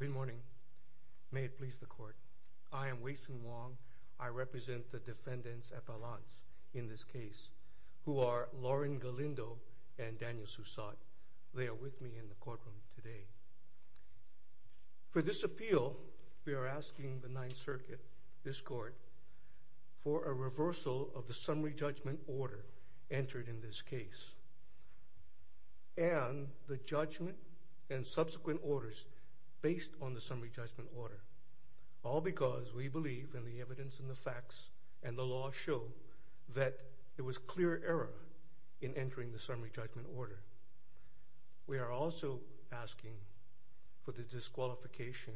Good morning. May it please the court. I am Wason Wong. I represent the defendants at balance in this case who are Lauryn Galindo and Daniel Sussott. They are with me in the courtroom today. For this appeal, we are asking the Ninth Circuit, this court, for a reversal of the summary judgment order entered in this case, and the judgment and subsequent orders based on the summary judgment order, all because we believe in the evidence and the facts and the law show that there was clear error in entering the summary judgment order. We are also asking for the disqualification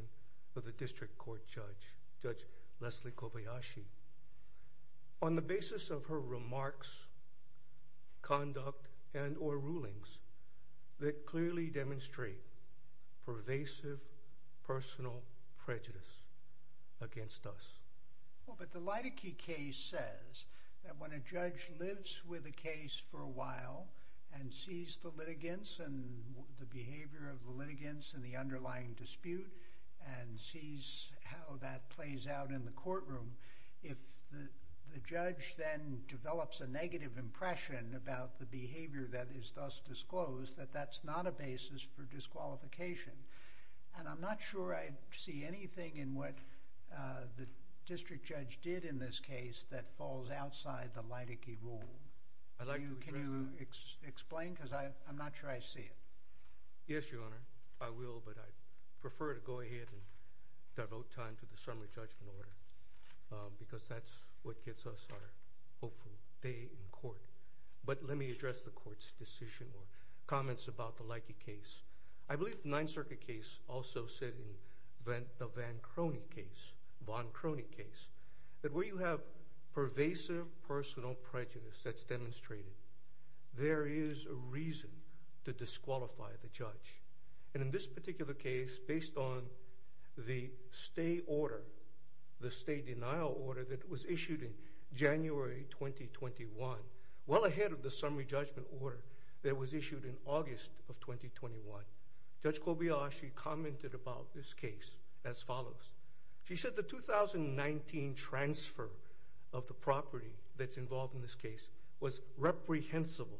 of the district court judge, Judge Leslie Kobayashi. On the basis of her remarks, conduct, and or rulings that clearly demonstrate pervasive personal prejudice against us. Well, but the Leidecky case says that when a judge lives with a case for a while and sees the litigants and the behavior of the litigants in the underlying dispute, and sees how that plays out in the courtroom, if the judge then develops a negative impression about the behavior that is thus disclosed, that that's not a basis for disqualification. And I'm not sure I see anything in what the district judge did in this case that falls outside the Leidecky rule. Can you explain? Because I'm not sure I see it. Yes, Your Honor. I will, but I prefer to go ahead and devote time to the summary judgment order, because that's what gets us our hopeful day in court. But let me address the court's decision or comments about the Leidecky case. I believe the Ninth Circuit case also said in the Van Crony case, Von Crony case, that where you have pervasive personal prejudice that's demonstrated, there is a reason to disqualify the judge. And in this particular case, based on the stay order, the stay denial order that was issued in January 2021, well ahead of the summary judgment order that was issued in August of 2021, Judge Kobayashi commented about this case as follows. She said the 2019 transfer of the property that's involved in this case was reprehensible.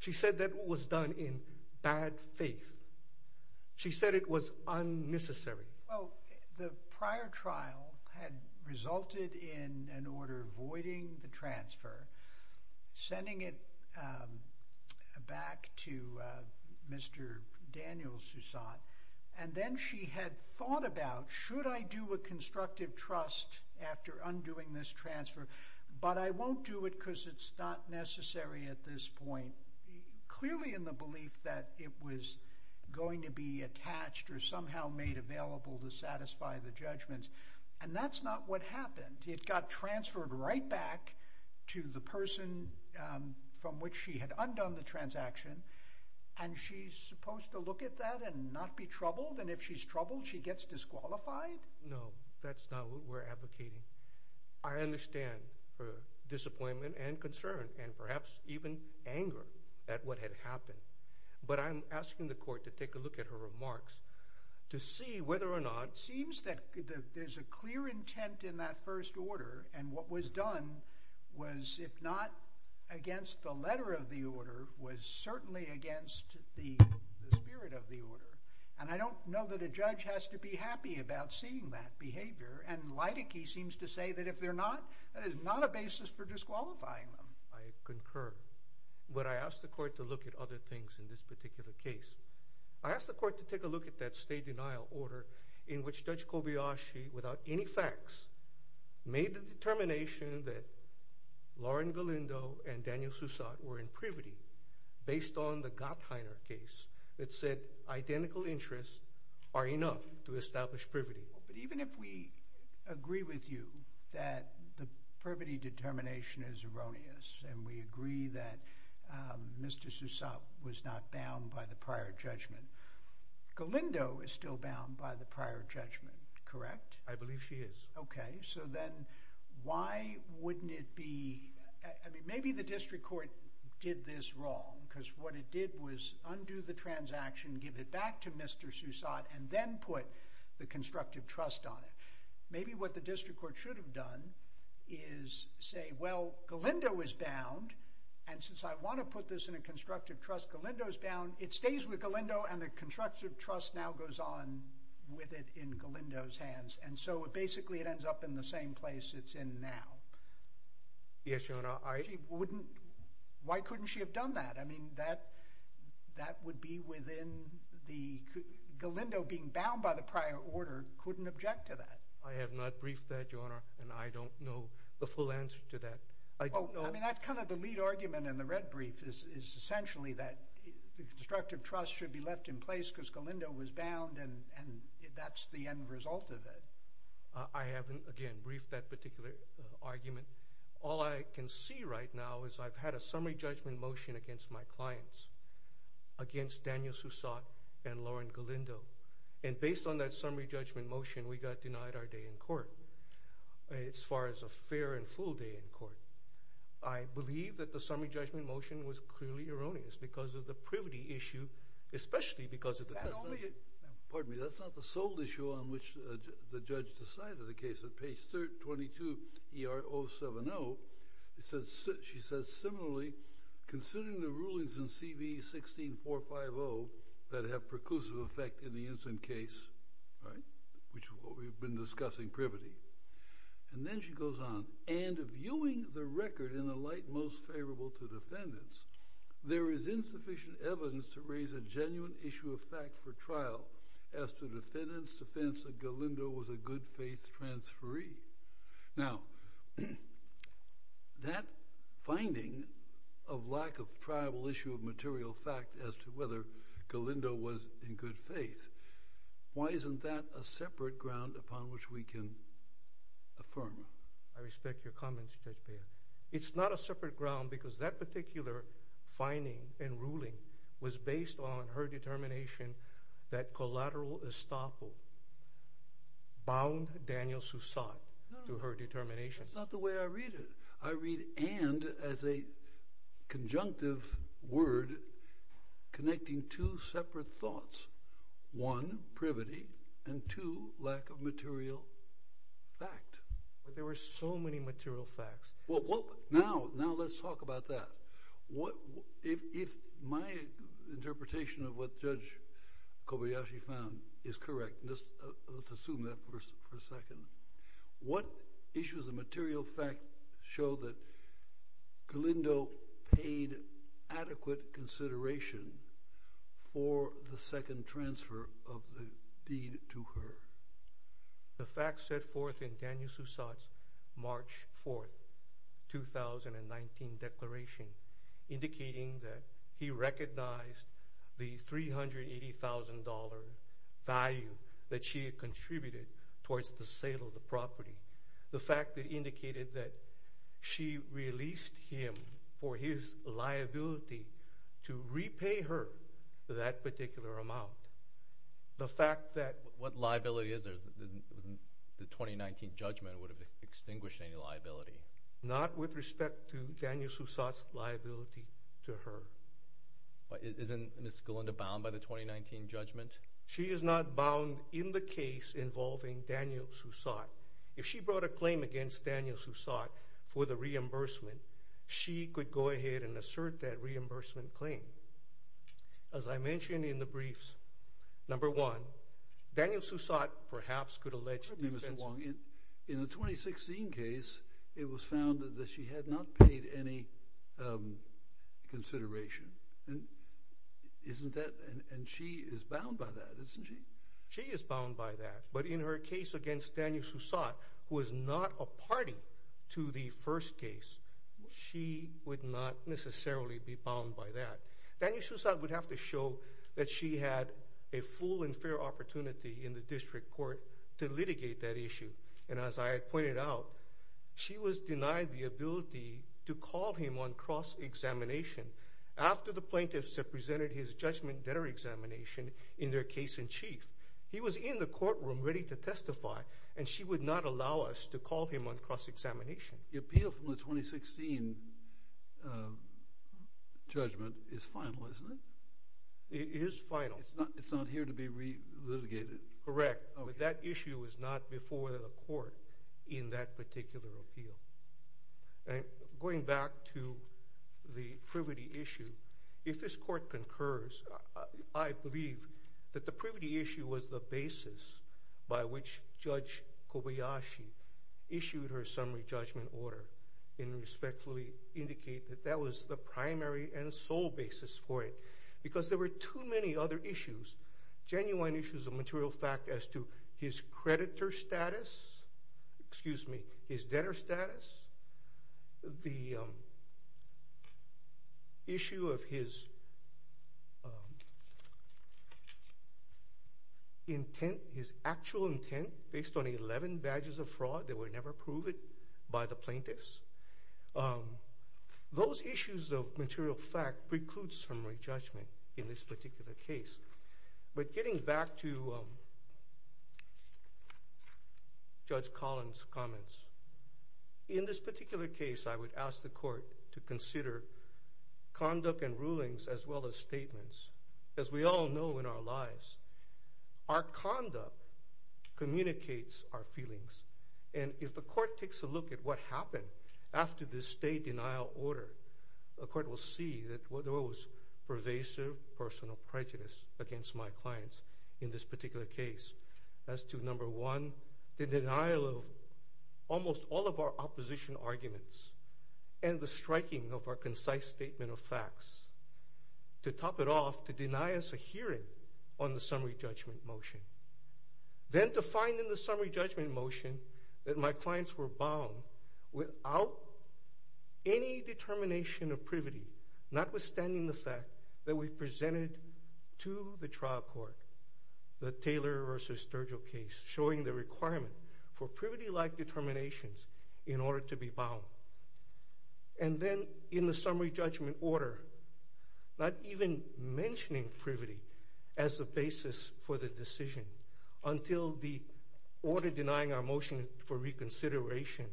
She said that was done in bad faith. She said it was unnecessary. Well, the prior trial had resulted in an order voiding the transfer, sending it back to Mr. Daniels, who saw it, and then she had thought should I do a constructive trust after undoing this transfer, but I won't do it because it's not necessary at this point, clearly in the belief that it was going to be attached or somehow made available to satisfy the judgments. And that's not what happened. It got transferred right back to the person from which she had undone the transaction, and she's supposed to look at that and not be disqualified? No, that's not what we're advocating. I understand her disappointment and concern and perhaps even anger at what had happened, but I'm asking the court to take a look at her remarks to see whether or not... It seems that there's a clear intent in that first order, and what was done was, if not against the letter of the order, was certainly against the spirit of the order. And I don't know that a judge has to be happy about seeing that behavior, and Leidecky seems to say that if they're not, that is not a basis for disqualifying them. I concur, but I asked the court to look at other things in this particular case. I asked the court to take a look at that stay-denial order in which Judge Kobayashi, without any facts, made the determination that Lauren Galindo and Daniel Soussat were in privity based on the Gottheiner case that said identical interests are enough to establish privity. But even if we agree with you that the privity determination is erroneous, and we agree that Mr. Soussat was not bound by the prior judgment, Galindo is still bound by the prior judgment. Maybe what the district court should have done is say, well, Galindo is bound, and since I want to put this in a constructive trust, Galindo is bound. It stays with Galindo, and the constructive trust now goes on with it in Galindo's hands, and so basically it ends up in the same place it's in now. Yes, Your Honor, I... Why couldn't she have done that? I mean, that would be within the... Galindo being bound by the prior order couldn't object to that. I have not briefed that, Your Honor, and I don't know the full answer to that. I mean, that's kind of the lead argument in the red brief, is essentially that the constructive trust should be left in that. I haven't, again, briefed that particular argument. All I can see right now is I've had a summary judgment motion against my clients, against Daniel Soussat and Lauren Galindo, and based on that summary judgment motion, we got denied our day in court. As far as a fair and full day in court, I believe that the summary judgment motion was clearly erroneous because of the privity issue, especially because of the... Pardon me, that's not the sole issue on which the judge decided the case. At page 322 ER 070, it says... She says, similarly, considering the rulings in CV 16450 that have preclusive effect in the incident case, right, which is what we've been discussing, privity. And then she goes on, and viewing the record in a light most favorable to defendants, there is insufficient evidence to raise a genuine issue of fact for trial as to defendants' defense that Galindo was a good-faith transferee. Now, that finding of lack of tribal issue of material fact as to whether Galindo was in good faith, why isn't that a separate ground upon which we can affirm? I respect your comments, Judge Baird. It's not a separate ground because that particular finding and ruling was based on her determination that collateral estoppel bound Daniel Sussat to her determination. That's not the way I read it. I read and as a conjunctive word connecting two separate thoughts. One, privity, and two, lack of material fact. But there were so many material facts. Well, now let's talk about that. If my interpretation of what Judge Kobayashi found is correct, let's assume that for a second, what issues of material fact show that Galindo paid adequate consideration for the second transfer of the deed to her? The facts set forth in Daniel Sussat's March 4th, 2019 declaration indicating that he recognized the $380,000 value that she had contributed towards the sale of the property. The fact that indicated that she released him for his liability to repay her that particular amount. The fact that... What liability is there? The 2019 judgment would have extinguished any liability. Not with respect to Daniel Sussat's liability to her. But isn't Ms. Galindo bound by the 2019 judgment? She is not bound in the case involving Daniel Sussat. If she brought a claim against Daniel Sussat for the reimbursement, she could go ahead and assert that reimbursement claim. As I mentioned in the briefs, number one, Daniel Sussat perhaps could allege... Mr. Wong, in the 2016 case, it was found that she had not paid any consideration. And isn't that... And she is bound by that, isn't she? She is bound by that. But in her case against Daniel Sussat, who is not a party to the first case, she would not necessarily be bound by that. Daniel Sussat would have to show that she had a full and fair opportunity in the district court to litigate that issue. And as I had pointed out, she was denied the ability to call him on cross-examination after the plaintiffs had presented his judgment-debtor examination in their case-in-chief. He was in the courtroom ready to testify, and she would not allow us to call him on cross-examination. The appeal from the 2016 judgment is final, isn't it? It is final. It's not here to be re-litigated. Correct. But that issue was not before the court in that particular appeal. And going back to the privity issue, if this court concurs, I believe that the privity issue was the basis by which Judge Kobayashi issued her summary judgment order and respectfully indicate that that was the primary and sole basis for it. Because there were too many other issues, genuine issues of material fact as to his creditor status, excuse me, his debtor status, the issue of his intent, his actual intent based on 11 badges of fraud that were never proven by the plaintiffs, those issues of material fact precludes summary judgment in this particular case. But getting back to Judge Collins' comments, in this particular case I would ask the court to consider conduct and rulings as well as statements. As we all know in our lives, our conduct communicates our feelings, and if the court takes a look at what happened after this state denial order, the court will see that there was pervasive personal prejudice against my clients in this particular case as to number one, the denial of almost all of our opposition arguments and the striking of our concise statement of facts. To top it off, to deny us a hearing on the summary judgment motion. Then to find in the summary judgment motion that my clients were bound without any determination of privity, notwithstanding the fact that we presented to the trial court the Taylor v. Sturgill case, showing the requirement for privity-like determinations in order to be bound. And then in the summary judgment order, not even mentioning privity as the basis for the decision until the order denying our motion for reconsideration.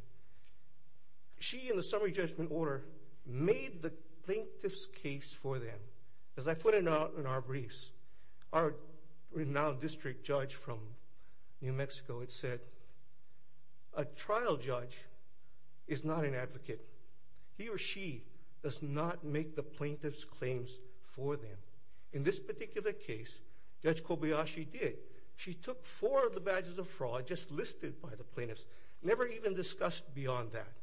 She, in the summary judgment order, made the plaintiff's case for them. As I put it out in our briefs, our renowned district judge from New Mexico had said, a trial judge is not an advocate. He or she does not make the plaintiff's claims for them. In this fraud, just listed by the plaintiffs, never even discussed beyond that,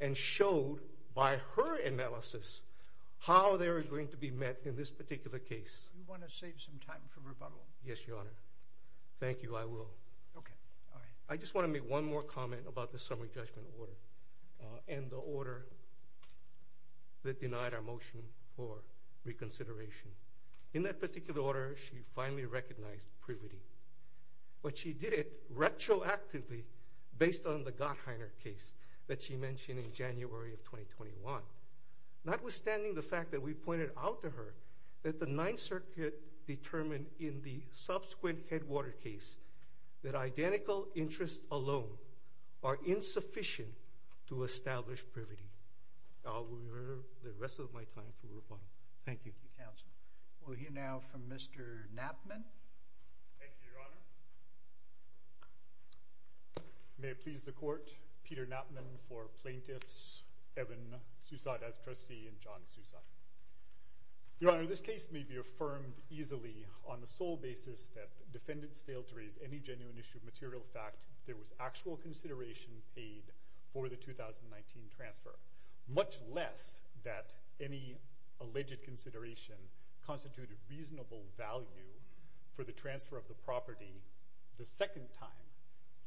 and showed by her analysis how they were going to be met in this particular case. You want to save some time for rebuttal? Yes, Your Honor. Thank you, I will. Okay. I just want to make one more comment about the summary judgment order and the order that denied our motion for reconsideration. In that particular order, she finally recognized privity. But she did it retroactively based on the Gottheiner case that she mentioned in January of 2021. Notwithstanding the fact that we pointed out to her that the Ninth Circuit determined in the subsequent Headwater case that identical interests alone are insufficient to establish privity. I will reserve the rest of my time for rebuttal. Thank you. Thank you, counsel. We'll hear now from Mr. Knappmann. Thank you, Your Honor. May it please the court, Peter Knappmann for plaintiffs, Evan Sousad as trustee and John Sousad. Your Honor, this case may be affirmed easily on the sole basis that defendants failed to raise any genuine issue of material fact there was actual consideration paid for the 2019 transfer, much less that any alleged consideration constituted reasonable value for the transfer of the property the second time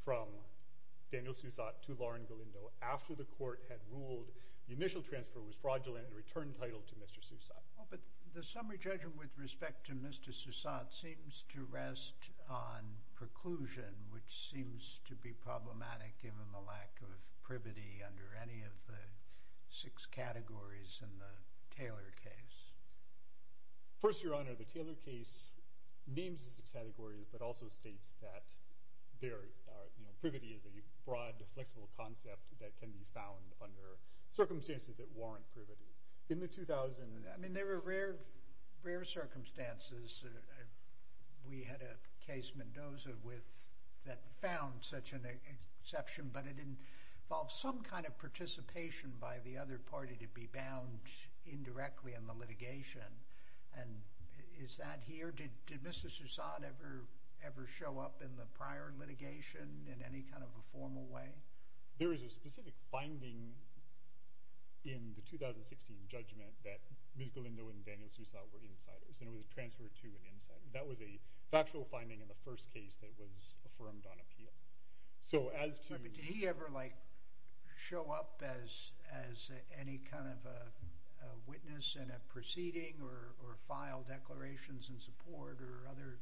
from Daniel Sousad to Lauren Galindo after the court had ruled the initial transfer was fraudulent and returned title to Mr. Sousad. But the summary judgment with respect to Mr. Sousad seems to rest on preclusion, which seems to be problematic given the lack of privity under any of the six categories in the Taylor case. First, Your Honor, the Taylor case names the six categories but also states that there are, you know, privity is a broad, flexible concept that can be found under circumstances that warrant privity. In the 2000s... I mean, there were rare, rare circumstances. We had a case, Mendoza, with that found such an exception, but it didn't involve some kind of participation by the other party to be bound indirectly in the litigation. And is that here? Did Mr. Sousad ever, ever show up in the prior litigation in any kind of a formal way? There is a specific finding in the 2016 judgment that Ms. Galindo and Daniel Sousad were insiders and it was a transfer to an insider. That was a factual finding in the first case that was affirmed on appeal. So as to... Did he ever, like, show up as any kind of a witness in a proceeding or file declarations in support or other...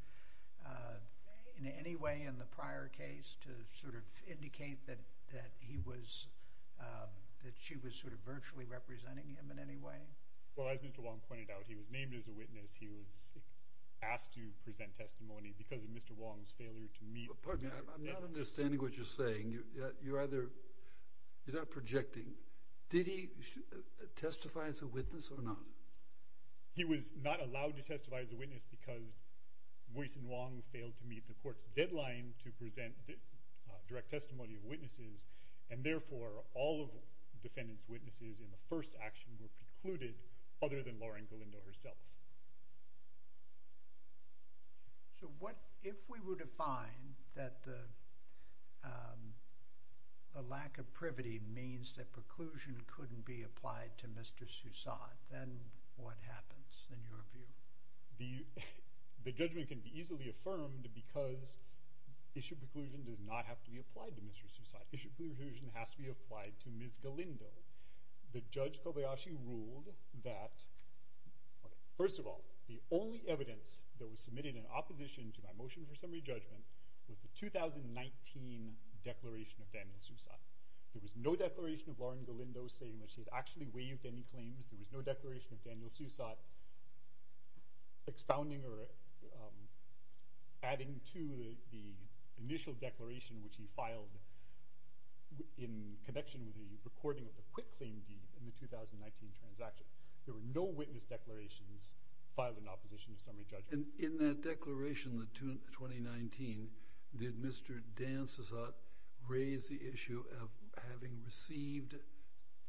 in any way in the prior case to sort of indicate that he was, that she was sort of virtually representing him in any way? Well, as Mr. Wong pointed out, he was named as a witness. He was asked to present testimony because of Mr. Wong's failure to meet... I'm not understanding what you're either... you're not projecting. Did he testify as a witness or not? He was not allowed to testify as a witness because Woyzeck and Wong failed to meet the court's deadline to present direct testimony of witnesses and therefore all of the defendant's witnesses in the first action were precluded, other than Laura and Galindo herself. So what... if we were to find that the lack of privity means that preclusion couldn't be applied to Mr. Sousad, then what happens in your view? The judgment can be easily affirmed because issue preclusion does not have to be applied to Mr. Sousad. Issue preclusion has to be applied to Ms. Galindo. The judge Kobayashi ruled that... First of all, the only evidence that was submitted in opposition to my motion for summary judgment was the 2019 declaration of Daniel Sousad. There was no declaration of Laura and Galindo saying that she had actually waived any claims. There was no declaration of Daniel Sousad expounding or adding to the initial declaration which he filed in connection with the recording of the quitclaim deed in the 2019 transaction. There were no witness declarations filed in opposition to summary judgment. And in that declaration, the 2019, did Mr. Dan Sousad raise the issue of having received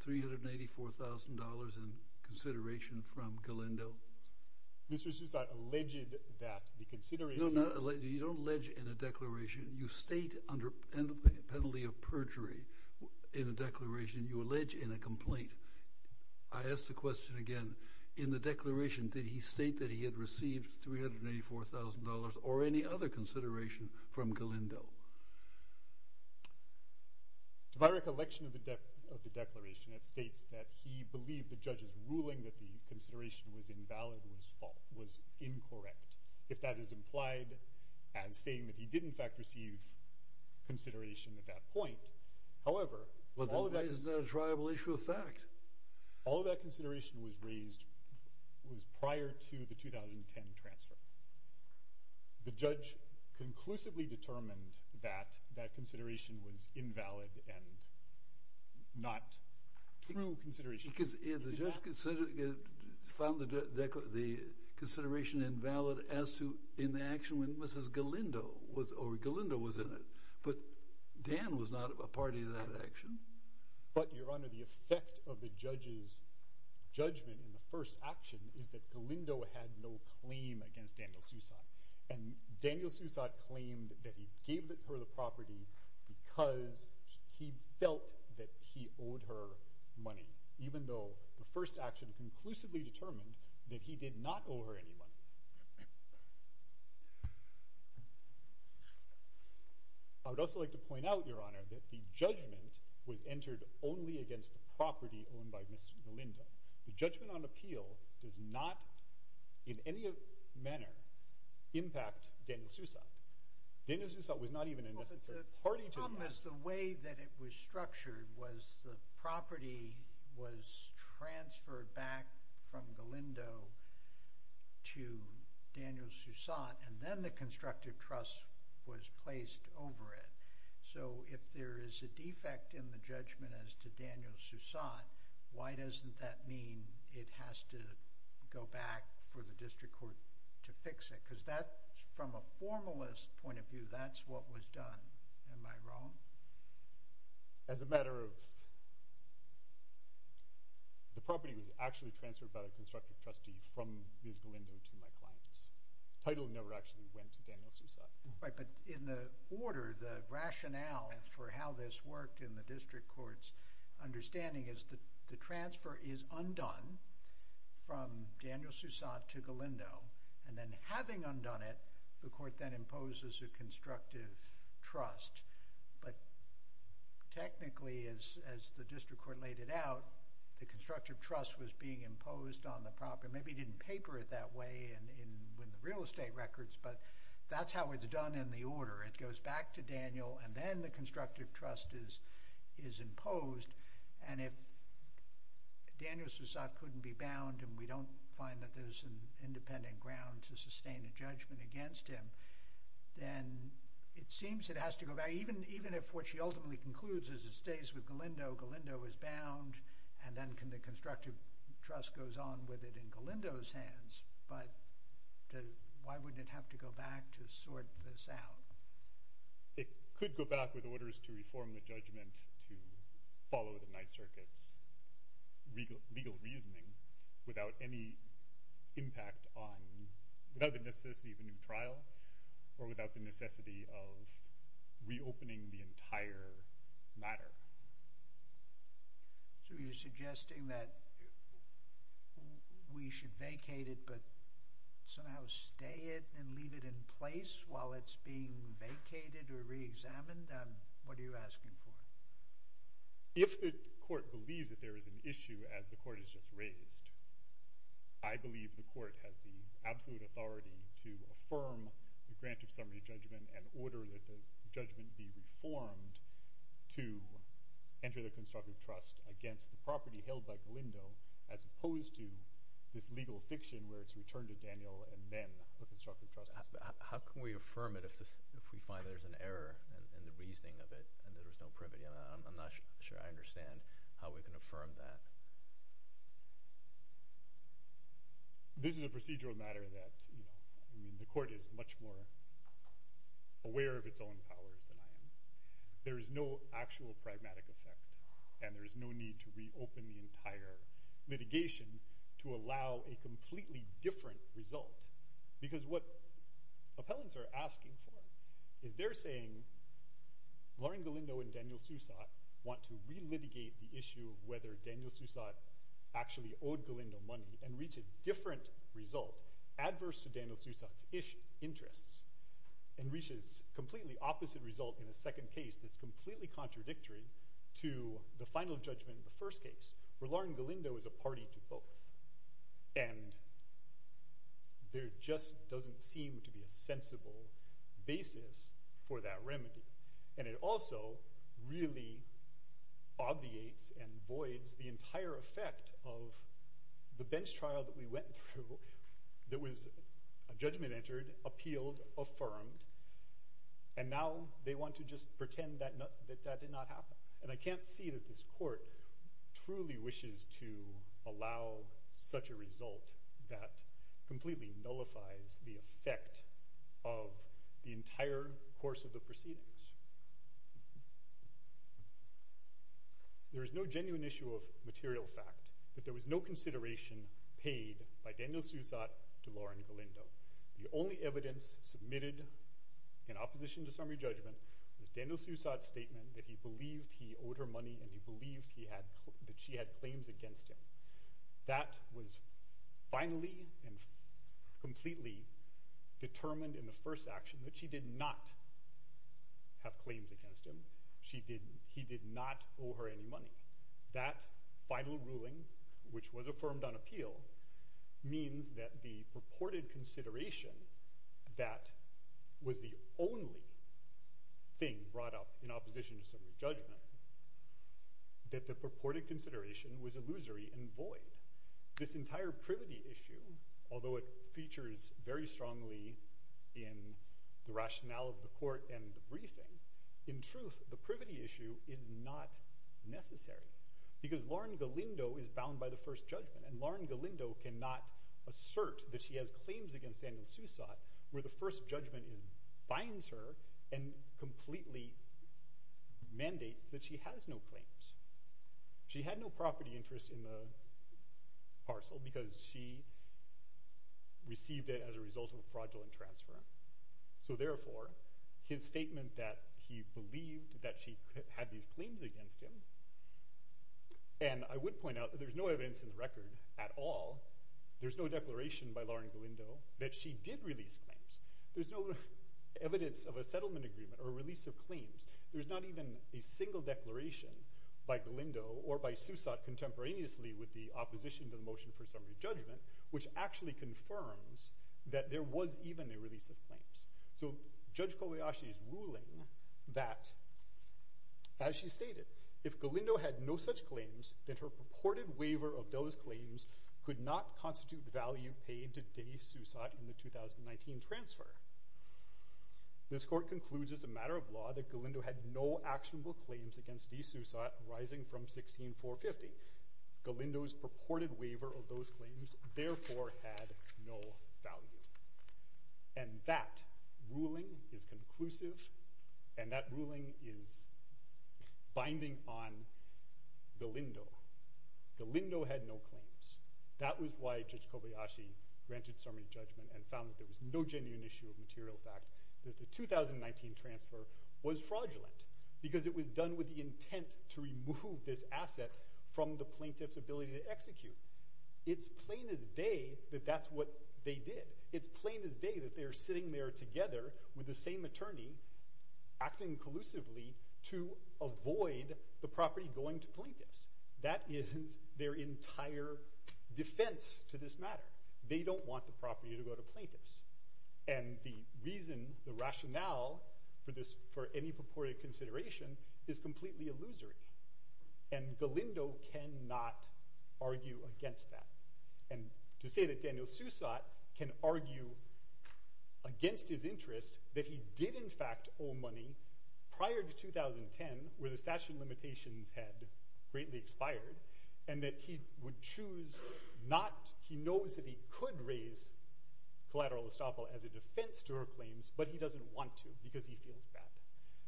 $384,000 in consideration from Galindo? Mr. Sousad alleged that the consideration... No, you don't allege in a declaration. You state under penalty of perjury in a declaration, you allege in a complaint. I ask the question again, in the declaration, did he state that he had received $384,000 or any other consideration from Galindo? If I recollection of the declaration, it states that he believed the judge's ruling that the consideration was invalid was incorrect. If that is implied as saying that he did in fact receive consideration at that point, however... Well, that is a tribal issue of fact. All of that consideration was raised, was prior to the 2010 transfer. The judge conclusively determined that that consideration was invalid and not true consideration. Because the judge found the consideration invalid as to in the action when Galindo was in it. But Dan was not a party to that action. But Your Honor, the effect of the judge's judgment in the first action is that Galindo had no claim against Daniel Sousad. And Daniel Sousad claimed that he gave her the property because he felt that he owed her money, even though the first action conclusively determined that he did not owe her any money. I would also like to point out, Your Honor, that the judgment was entered only against the property owned by Mr. Galindo. The judgment on appeal does not, in any manner, impact Daniel Sousad. Daniel Sousad was not even a necessary party to that. The problem is the way that it was structured was the property was transferred back from Galindo to Daniel Sousad, and then the constructive trust was placed over it. So if there is a defect in the judgment as to Daniel Sousad, why doesn't that mean it has to go back for the district court to fix it? Because that, from a formalist point of view, that's what was done. Am I wrong? As a matter of, the property was actually transferred by the constructive trustee from Ms. Galindo to my client. The title never actually went to Daniel Sousad. Right, but in the order, the rationale for how this worked in the district court's understanding is that the transfer is undone from Daniel Sousad to Galindo, and then having undone it, the court then imposes a constructive trust. But technically, as the district court laid it out, the constructive trust was being imposed on the property. Maybe he didn't paper it that way in the real estate records, but that's how it's done in the order. It goes back to Daniel, and then the constructive trust is imposed. And if Daniel Sousad couldn't be bound, and we don't find that there's an independent ground to sustain a with Galindo, Galindo is bound, and then the constructive trust goes on with it in Galindo's hands. But why would it have to go back to sort this out? It could go back with orders to reform the judgment to follow the Ninth Circuit's legal reasoning without any impact on, without the necessity of reopening the entire matter. So you're suggesting that we should vacate it but somehow stay it and leave it in place while it's being vacated or re-examined? What are you asking for? If the court believes that there is an issue as the court has just raised, I believe the court has the absolute authority to affirm the grant of summary judgment and order that the judgment be reformed to enter the constructive trust against the property held by Galindo as opposed to this legal fiction where it's returned to Daniel and then the constructive trust. How can we affirm it if we find there's an error in the reasoning of it and there's no privity on that? I'm not that, I mean the court is much more aware of its own powers than I am. There is no actual pragmatic effect and there is no need to reopen the entire litigation to allow a completely different result because what appellants are asking for is they're saying Lauren Galindo and Daniel Sousat want to re-litigate the issue of whether Daniel Sousat actually owed Galindo money and reach a different result adverse to Daniel Sousat's ish interests and reaches completely opposite result in a second case that's completely contradictory to the final judgment in the first case where Lauren Galindo is a party to both and there just doesn't seem to be a sensible basis for that remedy and it also really obviates and voids the entire effect of the bench trial that we went through that was a judgment entered, appealed, affirmed and now they want to just pretend that that did not happen and I can't see that this court truly wishes to allow such a result that completely nullifies the effect of the entire course of the proceedings. There is no genuine issue of material fact that there was no consideration paid by Daniel Sousat to Lauren Galindo. The only evidence submitted in opposition to summary judgment was Daniel Sousat's statement that he believed he owed her money and he believed that she had claims against him. That was finally and completely determined in the first action that she did not have claims against him. He did not owe her any money. That final ruling which was affirmed on appeal means that the purported consideration that was the only thing brought up in opposition to summary judgment that the purported consideration was illusory and void. This entire privity issue although it features very strongly in the rationale of the court and the briefing, in truth the privity issue is not necessary because Lauren Galindo is bound by the first judgment and Lauren Galindo cannot assert that she has claims against Daniel Sousat where the first judgment binds her and completely mandates that she has no claims. She had no property interest in the parcel because she received it as a result of a fraudulent transfer. So therefore his statement that he believed that she had these claims against him and I would point out there's no evidence in the record at all. There's no declaration by Lauren Galindo that she did release claims. There's no evidence of a settlement agreement or release of claims. There's not even a single declaration by Galindo or by Sousat contemporaneously with the opposition to the motion for summary judgment which actually confirms that there was even a release of claims. So Judge Kobayashi is ruling that as she stated if Galindo had no such claims that her purported waiver of those claims could not constitute the value paid to Day-Sousat in the 2019 transfer. This court concludes as a matter of law that Galindo had no actionable claims against Day-Sousat arising from 16450. Galindo's purported waiver of those claims therefore had no value and that ruling is conclusive and that ruling is binding on Galindo. Galindo had no claims. That was why Judge Kobayashi granted summary judgment and found that there was no genuine issue of material fact that the 2019 transfer was fraudulent because it was done with the intent to remove this asset from the plaintiff's ability to execute. It's plain as day that that's what they did. It's plain as day that they're sitting there together with the same attorney acting collusively to avoid the property going to plaintiffs. That is their entire defense to this matter. They don't want property to go to plaintiffs and the reason the rationale for this for any purported consideration is completely illusory and Galindo cannot argue against that and to say that Daniel Sousat can argue against his interest that he did in fact owe money prior to 2010 where the statute of collateral estoppel as a defense to her claims but he doesn't want to because he feels bad.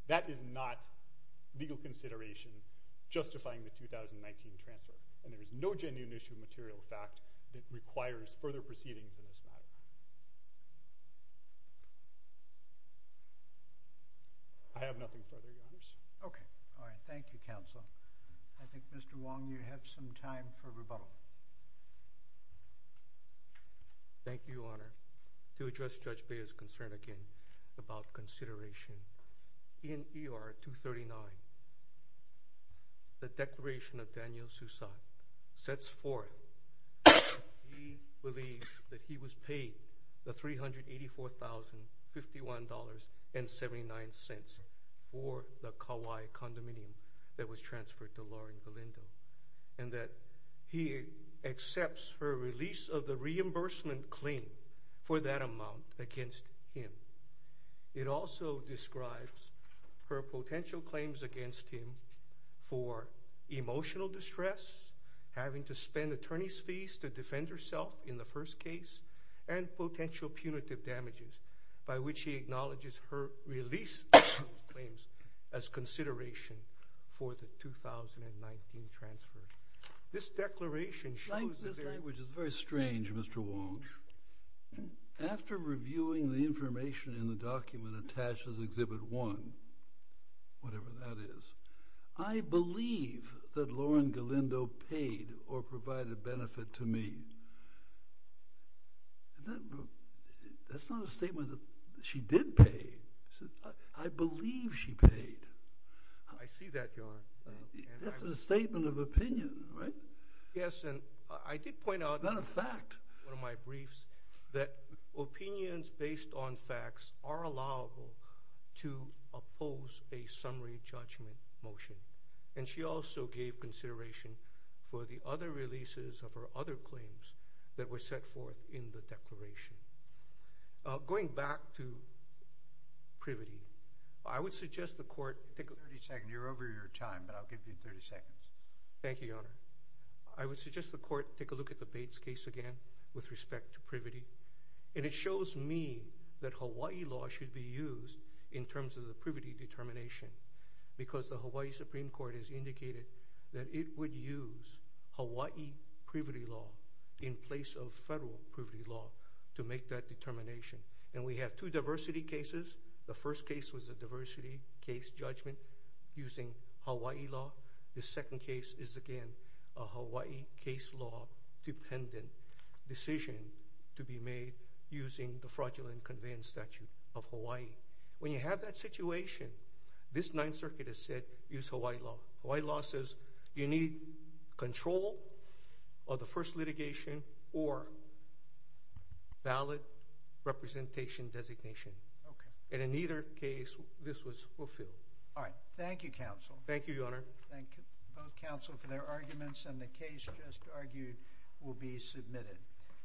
That is not legal consideration justifying the 2019 transfer and there is no genuine issue of material fact that requires further proceedings in this matter. I have nothing further your honors. Okay all right thank you counsel. I think Mr. Wong you have some time for rebuttal. Thank you your honor. To address Judge Beah's concern again about consideration in ER 239 the declaration of Daniel Sousat sets forth he believes that he was paid the $384,051.79 for the Kauai condominium that was transferred to Lauren Galindo and that he accepts her release of the reimbursement claim for that amount against him. It also describes her potential claims against him for emotional distress having to spend attorney's fees to defend herself in the first case and potential punitive damages by which he acknowledges her release of claims as consideration for the 2019 transfer. This declaration shows. This language is very strange Mr. Wong. After reviewing the information in the document attached as exhibit one whatever that is I believe that Lauren Galindo paid or provided benefit to me. And that that's not a statement that she did pay. I believe she paid. I see that your honor. That's a statement of opinion right. Yes and I did point out. Not a fact. One of my briefs that opinions based on facts are allowable to oppose a summary judgment motion and she also gave consideration for the other releases of her other claims that were set forth in the declaration. Going back to privity I would suggest the court take a 30 second you're over your time but I'll give you 30 seconds. Thank you your honor. I would suggest the court take a look at the Bates case again with respect to privity and it shows me that Hawaii law should be used in terms of the privity determination because the Hawaii Supreme Court has indicated that it would use Hawaii privity law in place of federal privity law to make that determination and we have two diversity cases. The first case was a diversity case judgment using Hawaii law. The second case is again a Hawaii case law dependent decision to be made using the fraudulent conveyance statute of Hawaii. When you have that situation this ninth circuit has said use Hawaii law. Hawaii law says you need control of the first litigation or ballot representation designation okay and in either case this was fulfilled. All right thank you counsel. Thank you your honor. Thank you both counsel for their arguments and the case just argued will be submitted.